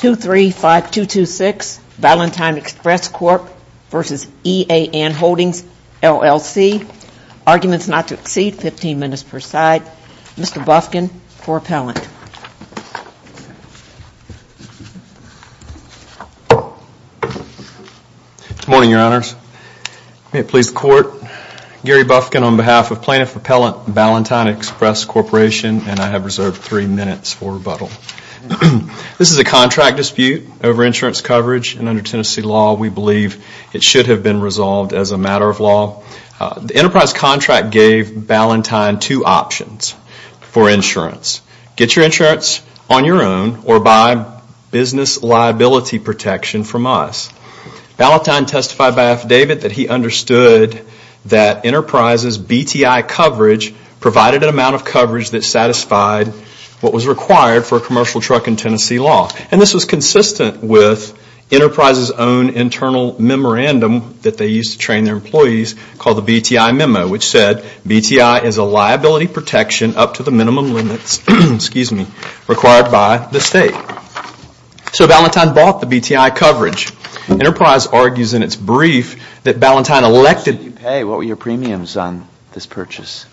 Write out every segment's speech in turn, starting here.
235226 Valentine Express Corp v. EAN Holdings LLC. Arguments not to exceed 15 minutes per side. Mr. Bufkin for appellant. Good morning, your honors. May it please the court, Gary Bufkin on behalf of plaintiff appellant Valentine Express Corp and I have reserved three minutes for rebuttal. This is a contract dispute over insurance coverage and under Tennessee law we believe it should have been resolved as a matter of law. The enterprise contract gave Valentine two options for insurance. Get your insurance on your own or by business liability protection from us. Valentine testified by affidavit that he understood that enterprises BTI coverage provided an amount of coverage that satisfied what was required for a commercial truck in Tennessee law. And this was consistent with enterprises own internal memorandum that they used to train their employees called the BTI memo which said BTI is a liability protection up to the minimum limits required by the state. So Valentine bought the BTI coverage. Enterprise argues in its brief that Valentine elected... What did you pay? What were your premiums on this purchase?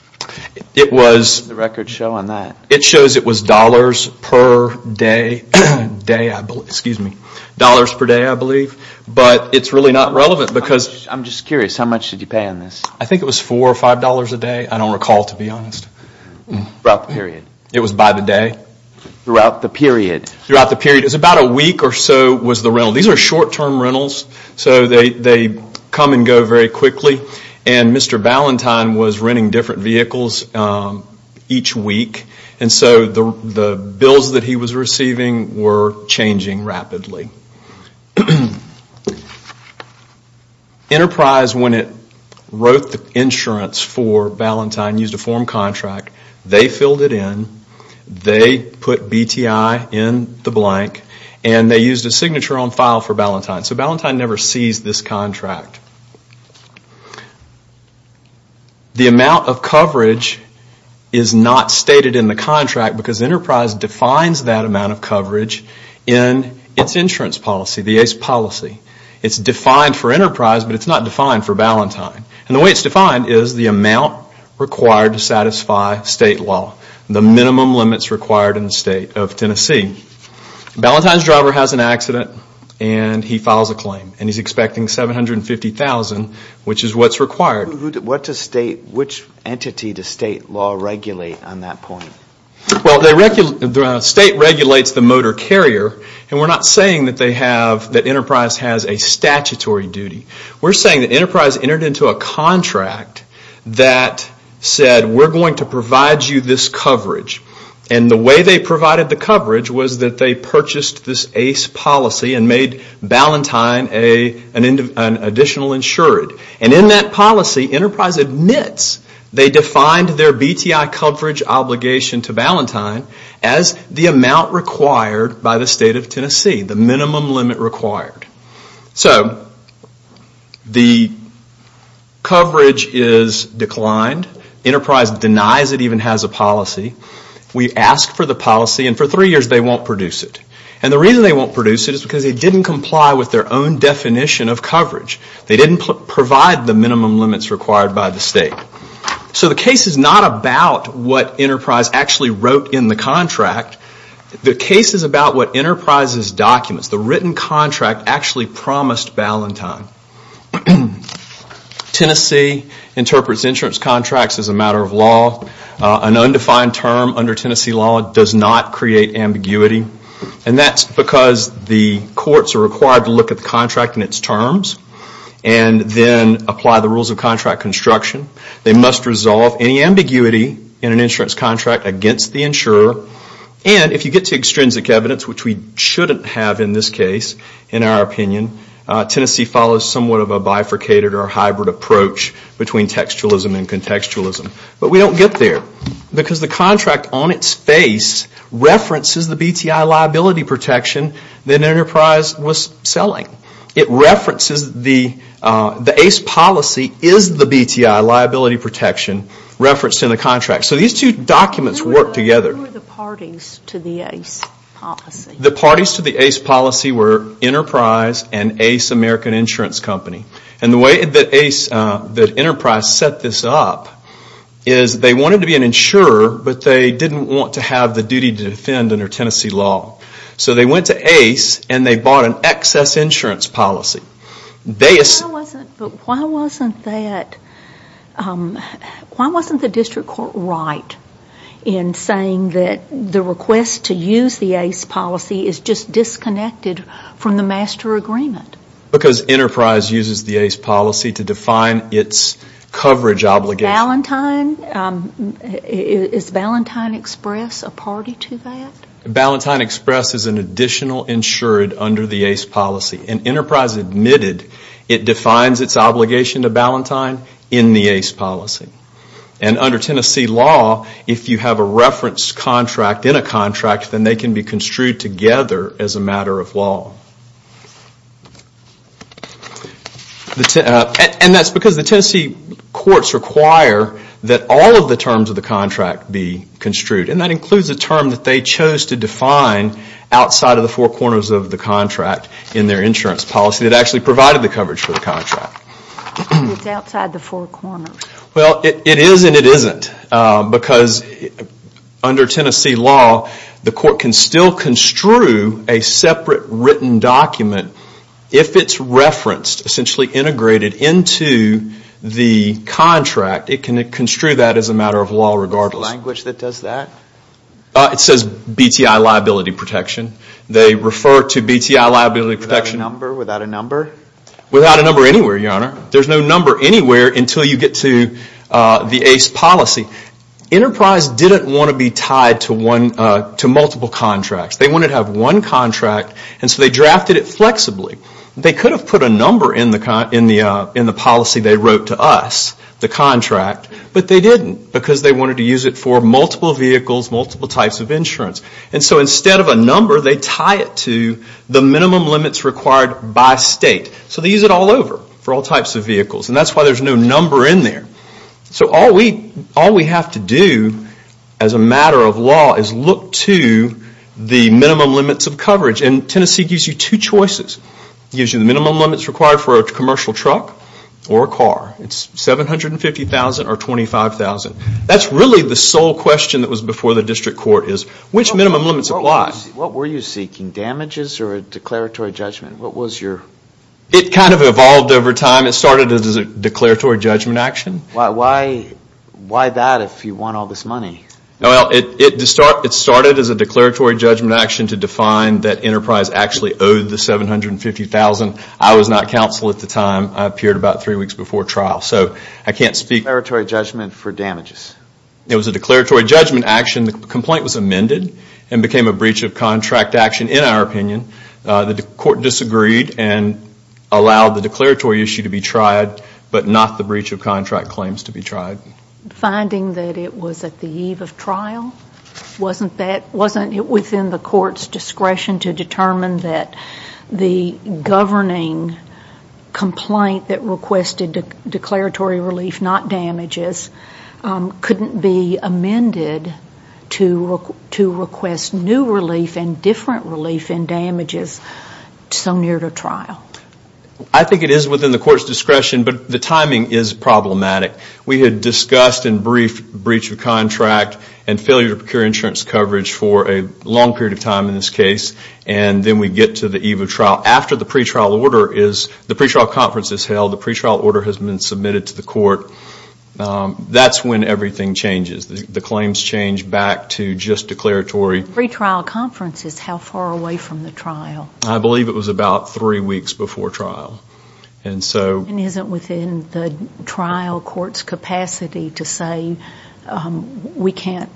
It was... The records show on that. It shows it was dollars per day, excuse me, dollars per day I believe. But it is really not relevant because... I am just curious, how much did you pay on this? I think it was four or five dollars a day. I don't recall to be honest. Throughout the period. It was by the day? Throughout the period. Throughout the period. It was about a week or so was the rental. These are short term rentals. So they come and go very quickly. And Mr. Valentine was renting different vehicles each week. And so the bills that he was receiving were changing rapidly. Enterprise when it wrote the insurance for Valentine used a form contract. They filled it in. They put BTI in the blank. And they used a signature on file for Valentine. So Valentine never sees this contract. The amount of coverage is not stated in the contract because Enterprise defines that amount of coverage in its insurance policy, the ACE policy. It is defined for Enterprise but it is not defined for Valentine. And the way it is defined is the amount required to satisfy state law. The minimum limits required in the state of Tennessee. Valentine's driver has an accident and he files a claim and he is expecting $750,000 which is what is required. Which entity does state law regulate on that Well the state regulates the motor carrier and we are not saying that Enterprise has a statutory duty. We are saying that Enterprise entered into a contract that said we are going to provide you this coverage. And the way they provided the coverage was that they purchased this ACE policy and made Valentine an additional insured. And in that policy Enterprise admits they defined their BTI coverage obligation to Valentine as the amount required by the state of Tennessee. The minimum limit required. So the coverage is declined. Enterprise denies it even has a policy. We ask for the policy and for three years they won't produce it. And the reason they won't produce it is because they didn't comply with their own definition of coverage. They didn't provide the minimum limits required by the state. So the case is not about what Enterprise actually wrote in the contract. The case is about what Enterprise's documents, the written contract actually promised Valentine. Tennessee interprets insurance contracts as a matter of law. An undefined term under Tennessee law does not create ambiguity. And that's because the courts are required to look at the contract and its terms. And then apply the rules of contract construction. They must resolve any ambiguity in an insurance contract against the insurer. And if you get to extrinsic evidence, which we shouldn't have in this case in our opinion, Tennessee follows somewhat of a bifurcated or hybrid approach between textualism and contextualism. But we don't get there. Because the contract on its face references the BTI liability protection that Enterprise was selling. It references the ACE policy is the BTI liability protection referenced in the contract. So these two documents work together. Who are the parties to the ACE policy? The parties to the ACE policy were Enterprise and ACE American Insurance Company. And the way that Enterprise set this up is they wanted to be an insurer, but they didn't want to have the duty to defend under Tennessee law. So they went to ACE and they bought an excess insurance policy. Why wasn't the district court right in saying that the request to use the ACE policy is just disconnected from the master agreement? Because Enterprise uses the ACE policy to define its coverage obligation. Is Valentine Express a party to that? Valentine Express is an additional insured under the ACE policy. And Enterprise admitted it defines its obligation to Valentine in the ACE policy. And under Tennessee law, if you have a reference contract in a contract, then they can be construed together as a matter of law. And that's because the Tennessee courts require that all of the terms of the contract be construed. And that includes a term that they chose to define outside of the four corners of the contract in their insurance policy that actually provided the coverage for the contract. Well, it is and it isn't, because under Tennessee law, the court can still construe a separate written document if it's referenced, essentially integrated into the contract, it can construe that as a matter of law regardless. Is there a language that does that? It says BTI liability protection. Without a number? Without a number anywhere, Your Honor. There's no number anywhere until you get to the ACE policy. Enterprise didn't want to be tied to multiple contracts. They wanted to have one contract and so they drafted it flexibly. They could have put a number in the policy they wrote to us, the contract, but they didn't because they wanted to use it for multiple vehicles, multiple types of insurance. And so instead of a number, they tie it to the minimum limits required by state. So they use it all over for all types of vehicles and that's why there's no number in there. So all we have to do as a matter of law is look to the minimum limits of coverage. And Tennessee gives you two choices. It gives you the minimum limits required for a commercial truck or a car. It's $750,000 or $25,000. That's really the sole question that was before the district court is which minimum limits apply? What were you seeking, damages or a declaratory judgment? It kind of evolved over time. It started as a declaratory judgment action. Why that if you won all this money? It started as a declaratory judgment action to define that Enterprise actually owed the $750,000. I was not counsel at the time. I appeared about three weeks before trial. A declaratory judgment for damages? It was a declaratory judgment action. The complaint was amended and became a breach of contract action, in our opinion. The court disagreed and allowed the declaratory issue to be tried, but not the breach of contract claims to be tried. Finding that it was at the eve of trial? Wasn't it within the court's discretion to determine that the governing complaint that requested declaratory relief, not damages? Couldn't it be amended to request new relief and different relief in damages so near the trial? I think it is within the court's discretion, but the timing is problematic. We had discussed and briefed breach of contract and failure to procure insurance coverage for a long period of time in this case. Then we get to the eve of trial. The pre-trial conference is held. The pre-trial order has been submitted to the court. That's when everything changes. The claims change back to just declaratory. The pre-trial conference is how far away from the trial? I believe it was about three weeks before trial. Isn't it within the trial court's capacity to say, we can't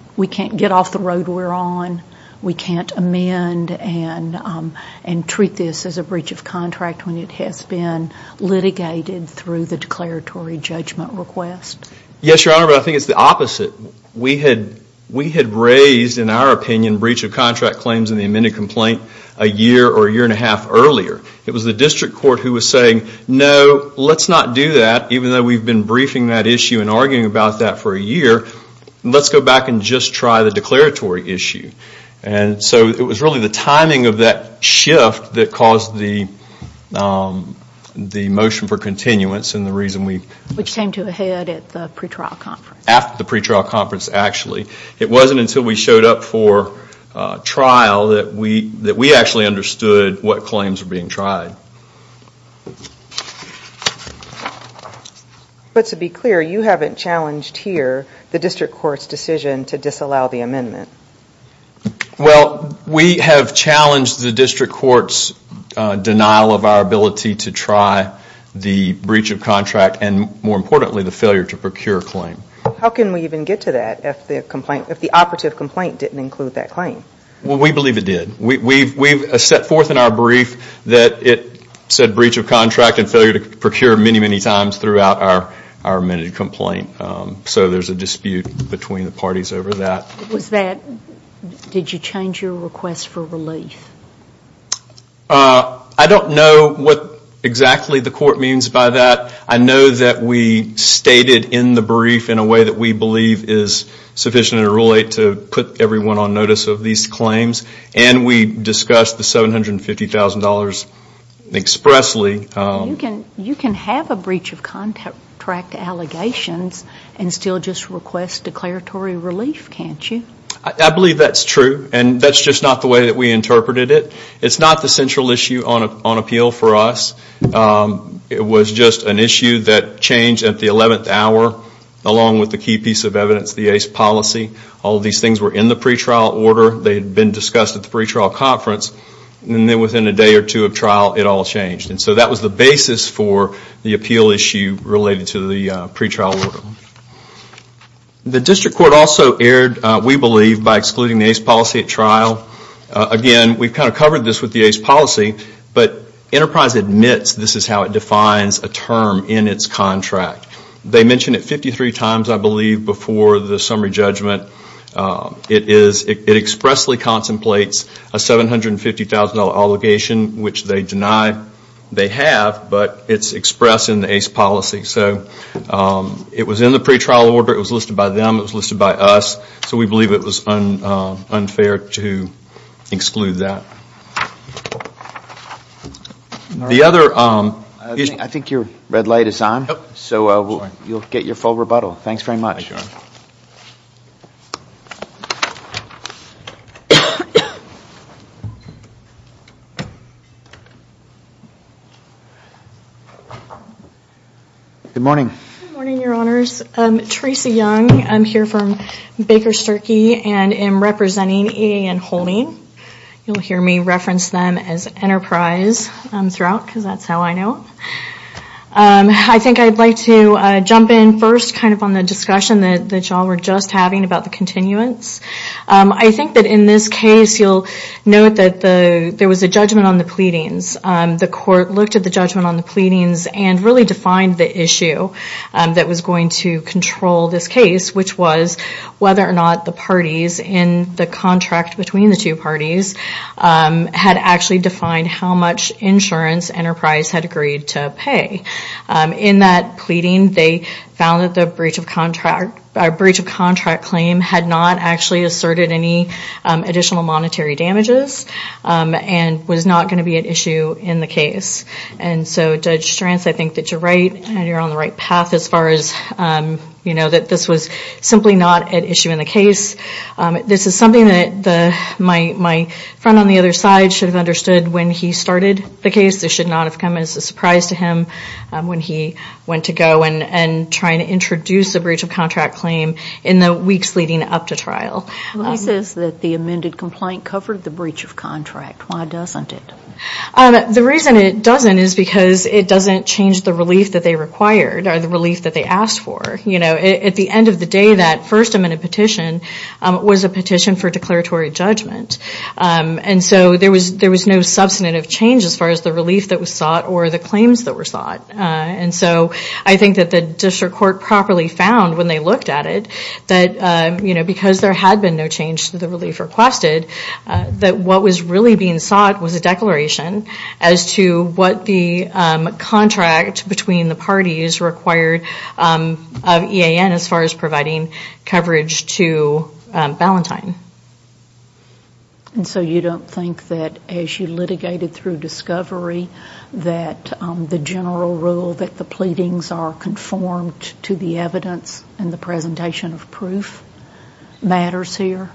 get off the road we're on, we can't amend and treat this as a breach of contract? When it has been litigated through the declaratory judgment request? Yes, Your Honor, but I think it's the opposite. We had raised, in our opinion, breach of contract claims in the amended complaint a year or a year and a half earlier. It was the district court who was saying, no, let's not do that, even though we've been briefing that issue and arguing about that for a year. Let's go back and just try the declaratory issue. It was really the timing of that shift that caused the motion for continuance. Which came to a head at the pre-trial conference? After the pre-trial conference, actually. It wasn't until we showed up for trial that we actually understood what claims were being tried. But to be clear, you haven't challenged here the district court's decision to disallow the amendment? Well, we have challenged the district court's denial of our ability to try the breach of contract and, more importantly, the failure to procure claim. How can we even get to that if the operative complaint didn't include that claim? Well, we believe it did. We've set forth in our brief that it said breach of contract and failure to procure many, many times throughout our amended complaint. So there's a dispute between the parties over that. Did you change your request for relief? I don't know what exactly the court means by that. I know that we stated in the brief in a way that we believe is sufficient in Rule 8 to put everyone on notice of these claims. And we discussed the $750,000 expressly. You can have a breach of contract allegations and still just request declaratory relief, can't you? I believe that's true. And that's just not the way that we interpreted it. It's not the central issue on appeal for us. It was just an issue that changed at the 11th hour along with the key piece of evidence, the ACE policy. All of these things were in the pre-trial order. They had been discussed at the pre-trial conference. And then within a day or two of trial, it all changed. And so that was the basis for the appeal issue related to the pre-trial order. The district court also erred, we believe, by excluding the ACE policy at trial. Again, we've kind of covered this with the ACE policy, but Enterprise admits this is how it defines a term in its contract. They mention it 53 times, I believe, before the summary judgment. It expressly contemplates a $750,000 obligation, which they deny they have, but it's expressed in the ACE policy. So it was in the pre-trial order. It was listed by them. It was listed by us. So we believe it was unfair to exclude that. I think your red light is on. So you'll get your full rebuttal. Thanks very much. Good morning. Good morning, Your Honors. I'm here from Baker Sturkey and am representing EAN Holding. You'll hear me reference them as Enterprise throughout because that's how I know. I think I'd like to jump in first kind of on the discussion that y'all were just having about the continuance. I think that in this case, you'll note that there was a judgment on the pleadings. The court looked at the judgment on the pleadings and really defined the issue that was going to control this case, which was whether or not the parties in the contract between the two parties had actually defined how much insurance Enterprise had agreed to pay. In that pleading, they found that the breach of contract claim had not actually asserted any additional monetary damages and was not going to be an issue in the case. And so, Judge Stranz, I think that you're right and you're on the right path as far as that this was simply not an issue in the case. This is something that my friend on the other side should have understood when he started the case. This should not have come as a surprise to him when he went to go and try to introduce a breach of contract claim in the weeks leading up to trial. He says that the amended complaint covered the breach of contract. Why doesn't it? The reason it doesn't is because it doesn't change the relief that they required or the relief that they asked for. At the end of the day, that first amended petition was a petition for declaratory judgment. And so there was no substantive change as far as the relief that was sought or the claims that were sought. And so I think that the district court properly found when they looked at it that because there had been no change to the relief requested, that what was really being sought was a declaration as to what the contract between the parties required of EAN as far as providing coverage to Ballantyne. And so you don't think that as you litigated through discovery that the general rule that the pleadings are conformed to the evidence and the presentation of proof matters here?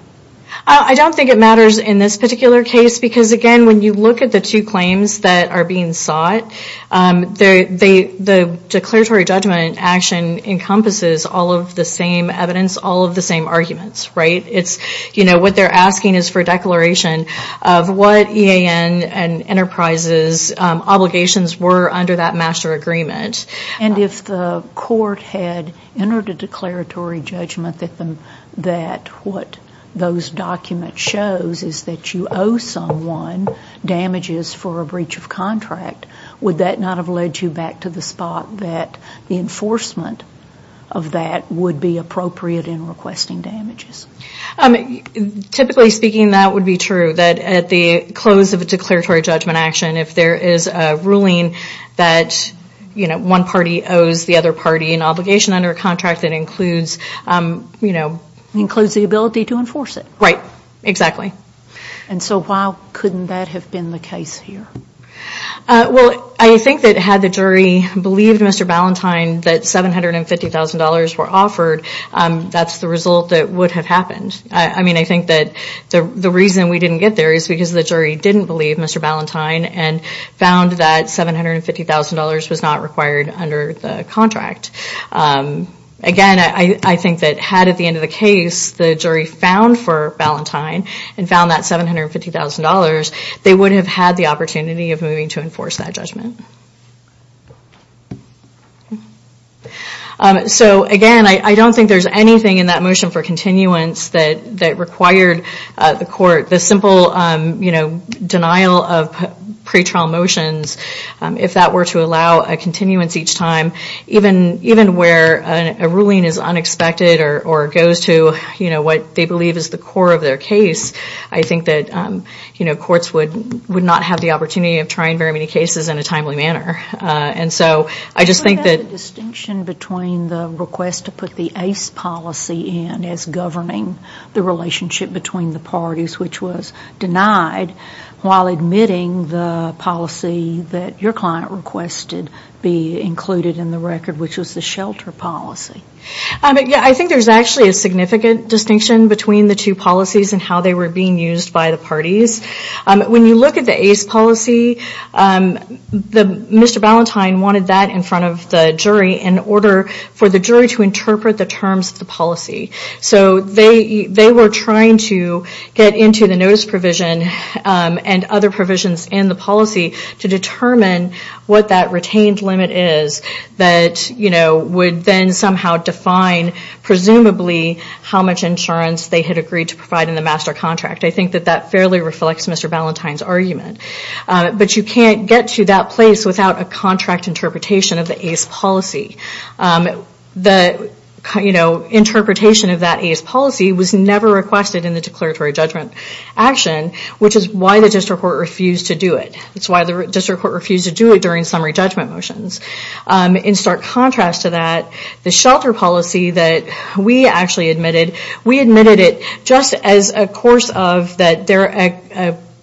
I don't think it matters in this particular case because, again, when you look at the two claims that are being sought, the declaratory judgment action encompasses all of the same evidence, all of the same arguments, right? It's, you know, what they're asking is for a declaration of what EAN and enterprises obligations were under that master agreement. And if the court had entered a declaratory judgment that what those documents shows is that you owe someone damages for a breach of contract, would that not have led you back to the spot that the enforcement of that would be appropriate in requesting damages? Typically speaking, that would be true, that at the close of a declaratory judgment action, if there is a ruling that, you know, one party owes the other party an obligation under a contract that includes, you know... Includes the ability to enforce it. Right, exactly. And so why couldn't that have been the case here? Well, I think that had the jury believed Mr. Ballantyne that $750,000 were offered, that's the result that would have happened. I mean, I think that the reason we didn't get there is because the jury didn't believe Mr. Ballantyne and found that $750,000 was not required under the contract. Again, I think that had at the end of the case the jury found for Ballantyne and found that $750,000, they would have had the opportunity of moving to enforce that judgment. So again, I don't think there's anything in that motion for continuance that required the court... The simple, you know, denial of pretrial motions, if that were to allow a continuance each time, even where a ruling is unexpected or goes to, you know, what they believe is the core of their case, I think that, you know, courts would not have the opportunity of trying very many cases in a timely manner. And so I just think that... What about the distinction between the request to put the ACE policy in as governing the relationship between the parties, which was denied, while admitting the policy that your client requested be included in the record, which was the shelter policy? Yeah, I think there's actually a significant distinction between the two policies and how they were being used by the parties. When you look at the ACE policy, Mr. Ballantyne wanted that in front of the jury in order for the jury to interpret the terms of the policy. So they were trying to get into the notice provision and other provisions in the policy to determine what that retained limit is that, you know, would then somehow define, presumably, how much insurance they had agreed to provide in the master contract. I think that that fairly reflects Mr. Ballantyne's argument. But you can't get to that place without a contract interpretation of the ACE policy. The, you know, interpretation of that ACE policy was never requested in the declaratory judgment action, which is why the district court refused to do it. It's why the district court refused to do it during summary judgment motions. In stark contrast to that, the shelter policy that we actually admitted, we admitted it just as a course of that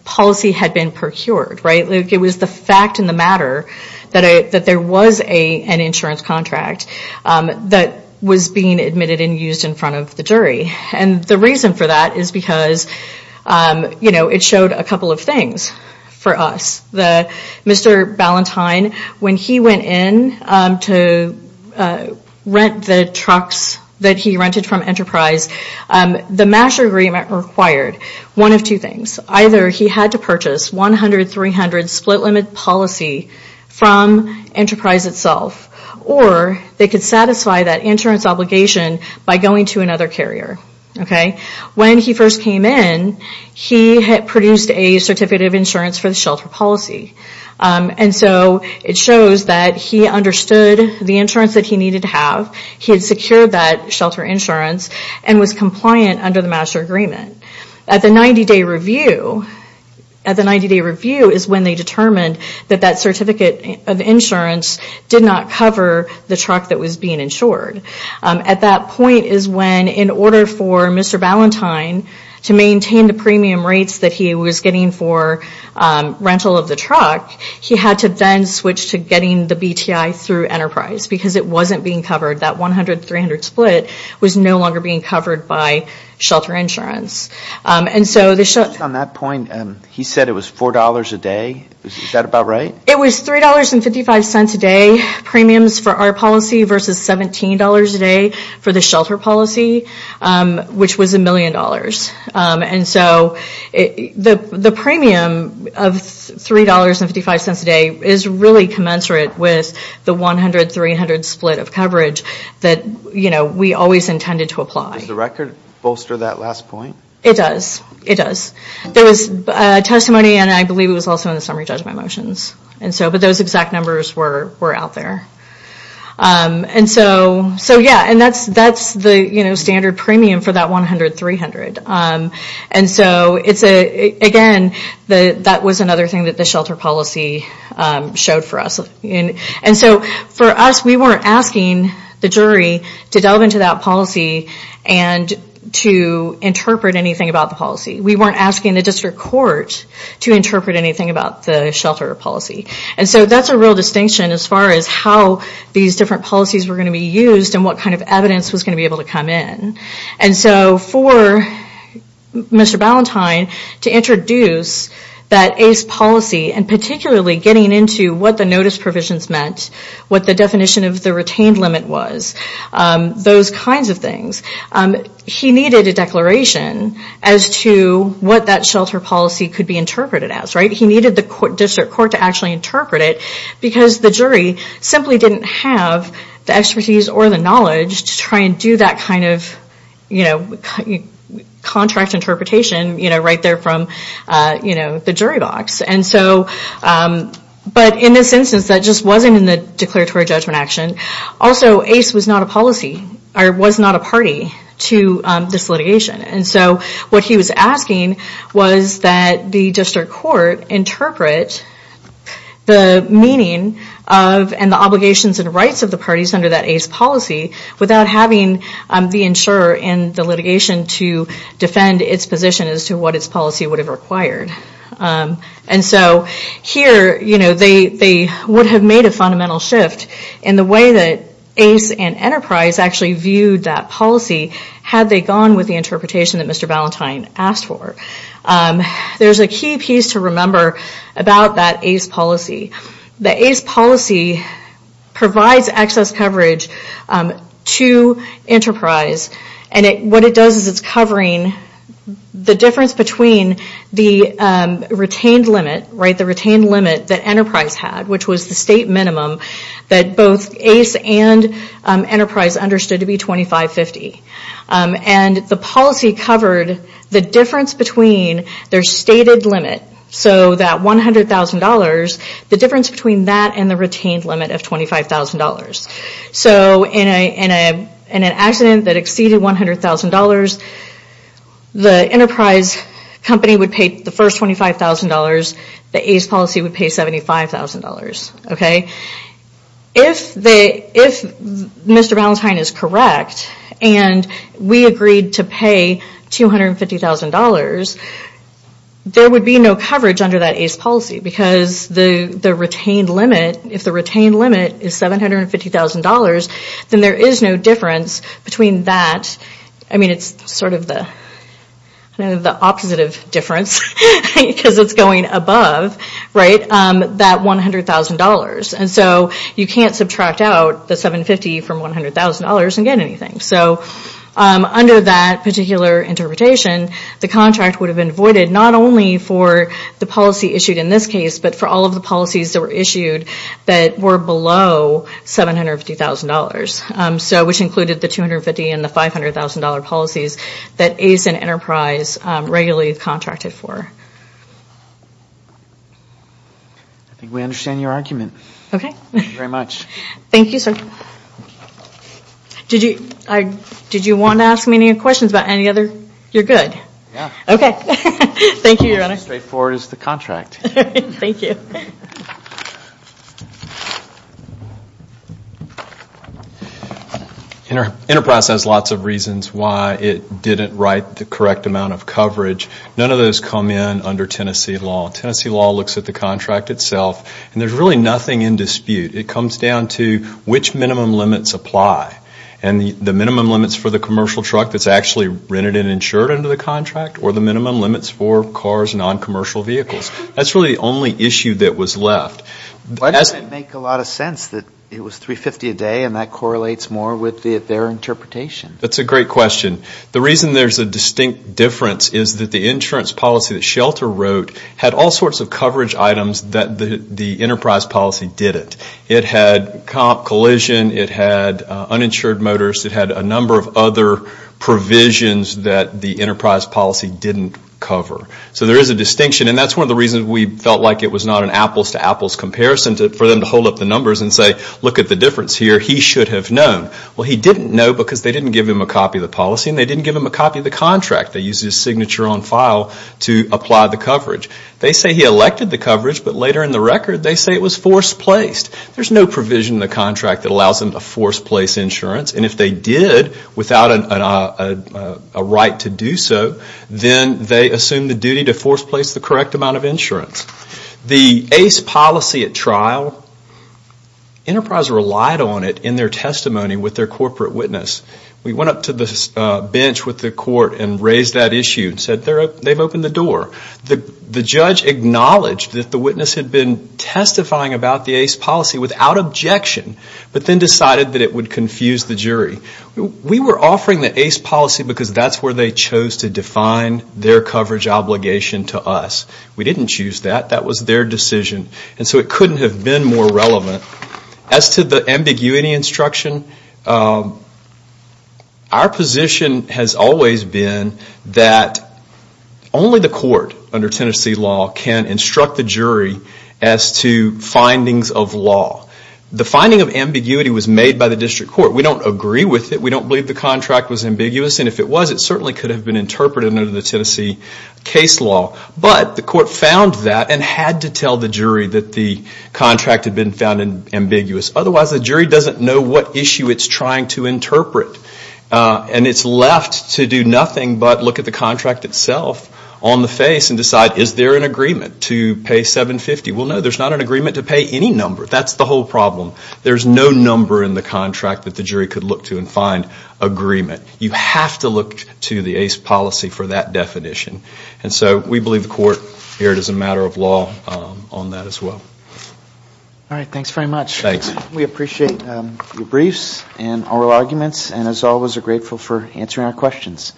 policy had been procured, right? It was the fact and the matter that there was an insurance contract that was being admitted and used in front of the jury. And the reason for that is because, you know, it showed a couple of things for us. Mr. Ballantyne, when he went in to rent the trucks that he rented from Enterprise, the master agreement required one of two things. Either he had to purchase 100-300 split limit policy from Enterprise itself, or they could satisfy that insurance obligation by going to another carrier. Okay? When he first came in, he had produced a certificate of insurance for the shelter policy. And so it shows that he understood the insurance that he needed to have. He had secured that shelter insurance and was compliant under the master agreement. At the 90-day review is when they determined that that certificate of insurance did not cover the truck that was being insured. At that point is when, in order for Mr. Ballantyne to maintain the premium rates that he was getting for rental of the truck, he had to then switch to getting the BTI through Enterprise because it wasn't being covered. That 100-300 split was no longer being covered by shelter insurance. And so... It was $3.55 a day premiums for our policy versus $17 a day for the shelter policy, which was $1 million. And so the premium of $3.55 a day is really commensurate with the 100-300 split of coverage. That we always intended to apply. Does the record bolster that last point? It does. There was testimony and I believe it was also in the summary judgment motions. But those exact numbers were out there. That's the standard premium for that 100-300. Again, that was another thing that the shelter policy showed for us. For us, we weren't asking the jury to delve into that policy and to interpret anything about the policy. We weren't asking the district court to interpret anything about the shelter policy. And so that's a real distinction as far as how these different policies were going to be used and what kind of evidence was going to be able to come in. For Mr. Ballantyne to introduce that ACE policy and particularly getting into what the notice provisions meant, what the definition of the retained limit was, those kinds of things. He needed a declaration as to what that shelter policy could be interpreted as. He needed the district court to actually interpret it because the jury simply didn't have the expertise or the knowledge to try and do that kind of contract interpretation right there from the jury box. But in this instance, that just wasn't in the declaratory judgment action. Also, ACE was not a party to this litigation. And so what he was asking was that the district court interpret the meaning and the obligations and rights of the parties under that ACE policy without having the insurer in the litigation to defend its position as to what its policy would have required. And so here, they would have made a fundamental shift in the way that ACE and Enterprise actually viewed that policy had they gone with the interpretation that Mr. Ballantyne asked for. There's a key piece to remember about that ACE policy. The ACE policy provides access coverage to Enterprise and what it does is it's covering the difference between the retained limit that Enterprise had, which was the state minimum that both ACE and Enterprise understood to be $25,050. And the policy covered the difference between their stated limit, so that $100,000, the difference between that and the retained limit of $25,000. So in an accident that exceeded $100,000, the Enterprise company would pay the first $25,000. The ACE policy would pay $75,000. If Mr. Ballantyne is correct and we agreed to pay $250,000, there would be no coverage under that ACE policy because the retained limit, if the retained limit is $750,000, then there is no difference between that, I mean it's sort of the opposite of difference because it's going above, that $100,000 and so you can't subtract out the $750,000 from $100,000 and get anything. So under that particular interpretation, the contract would have been voided not only for the policy issued in this case, but for all of the policies that were issued that were below $750,000, which included the $250,000 and the $500,000 policies that ACE and Enterprise regularly contracted for. I think we understand your argument. Thank you very much. Enterprise has lots of reasons why it didn't write the correct amount of coverage. None of those come in under Tennessee law. Tennessee law looks at the contract itself and there's really nothing in dispute. It comes down to which minimum limits apply and the minimum limits for the commercial truck that's actually rented and insured under the contract or the minimum limits for cars and noncommercial vehicles. That's really the only issue that was left. Why does it make a lot of sense that it was $350,000 a day and that correlates more with their interpretation? That's a great question. The reason there's a distinct difference is that the insurance policy that Shelter wrote had all sorts of coverage items that the Enterprise policy didn't. It had comp collision, it had uninsured motors, it had a number of other provisions that the Enterprise policy didn't cover. So there is a distinction and that's one of the reasons we felt like it was not an apples to apples comparison for them to hold up the numbers and say, look at the difference here, he should have known. Well, he didn't know because they didn't give him a copy of the policy and they didn't give him a copy of the contract. They used his signature on file to apply the coverage. They say he elected the coverage but later in the record they say it was forced placed. There's no provision in the contract that allows them to force place insurance and if they did without a right to do so, then they assume the duty to force place the correct amount of insurance. The ACE policy at trial, Enterprise relied on it in their testimony with their corporate witness. We went up to the bench with the court and raised that issue and said they've opened the door. The judge acknowledged that the witness had been testifying about the ACE policy without objection but then decided that it would confuse the jury. We were offering the ACE policy because that's where they chose to define their coverage obligation to us. We didn't choose that. That was their decision and so it couldn't have been more relevant. As to the ambiguity instruction, our position has always been that only the court under Tennessee law can instruct the jury as to findings of law. The finding of ambiguity was made by the district court. We don't agree with it. We don't believe the contract was ambiguous and if it was, it certainly could have been interpreted under the Tennessee case law. But the court found that and had to tell the jury that the contract had been found ambiguous. Otherwise the jury doesn't know what issue it's trying to interpret. And it's left to do nothing but look at the contract itself on the face and decide is there an agreement to pay $750? Well, no, there's not an agreement to pay any number. You have to look to the ACE policy for that definition. And so we believe the court erred as a matter of law on that as well. All right, thanks very much. We appreciate your briefs and oral arguments and as always are grateful for answering our questions.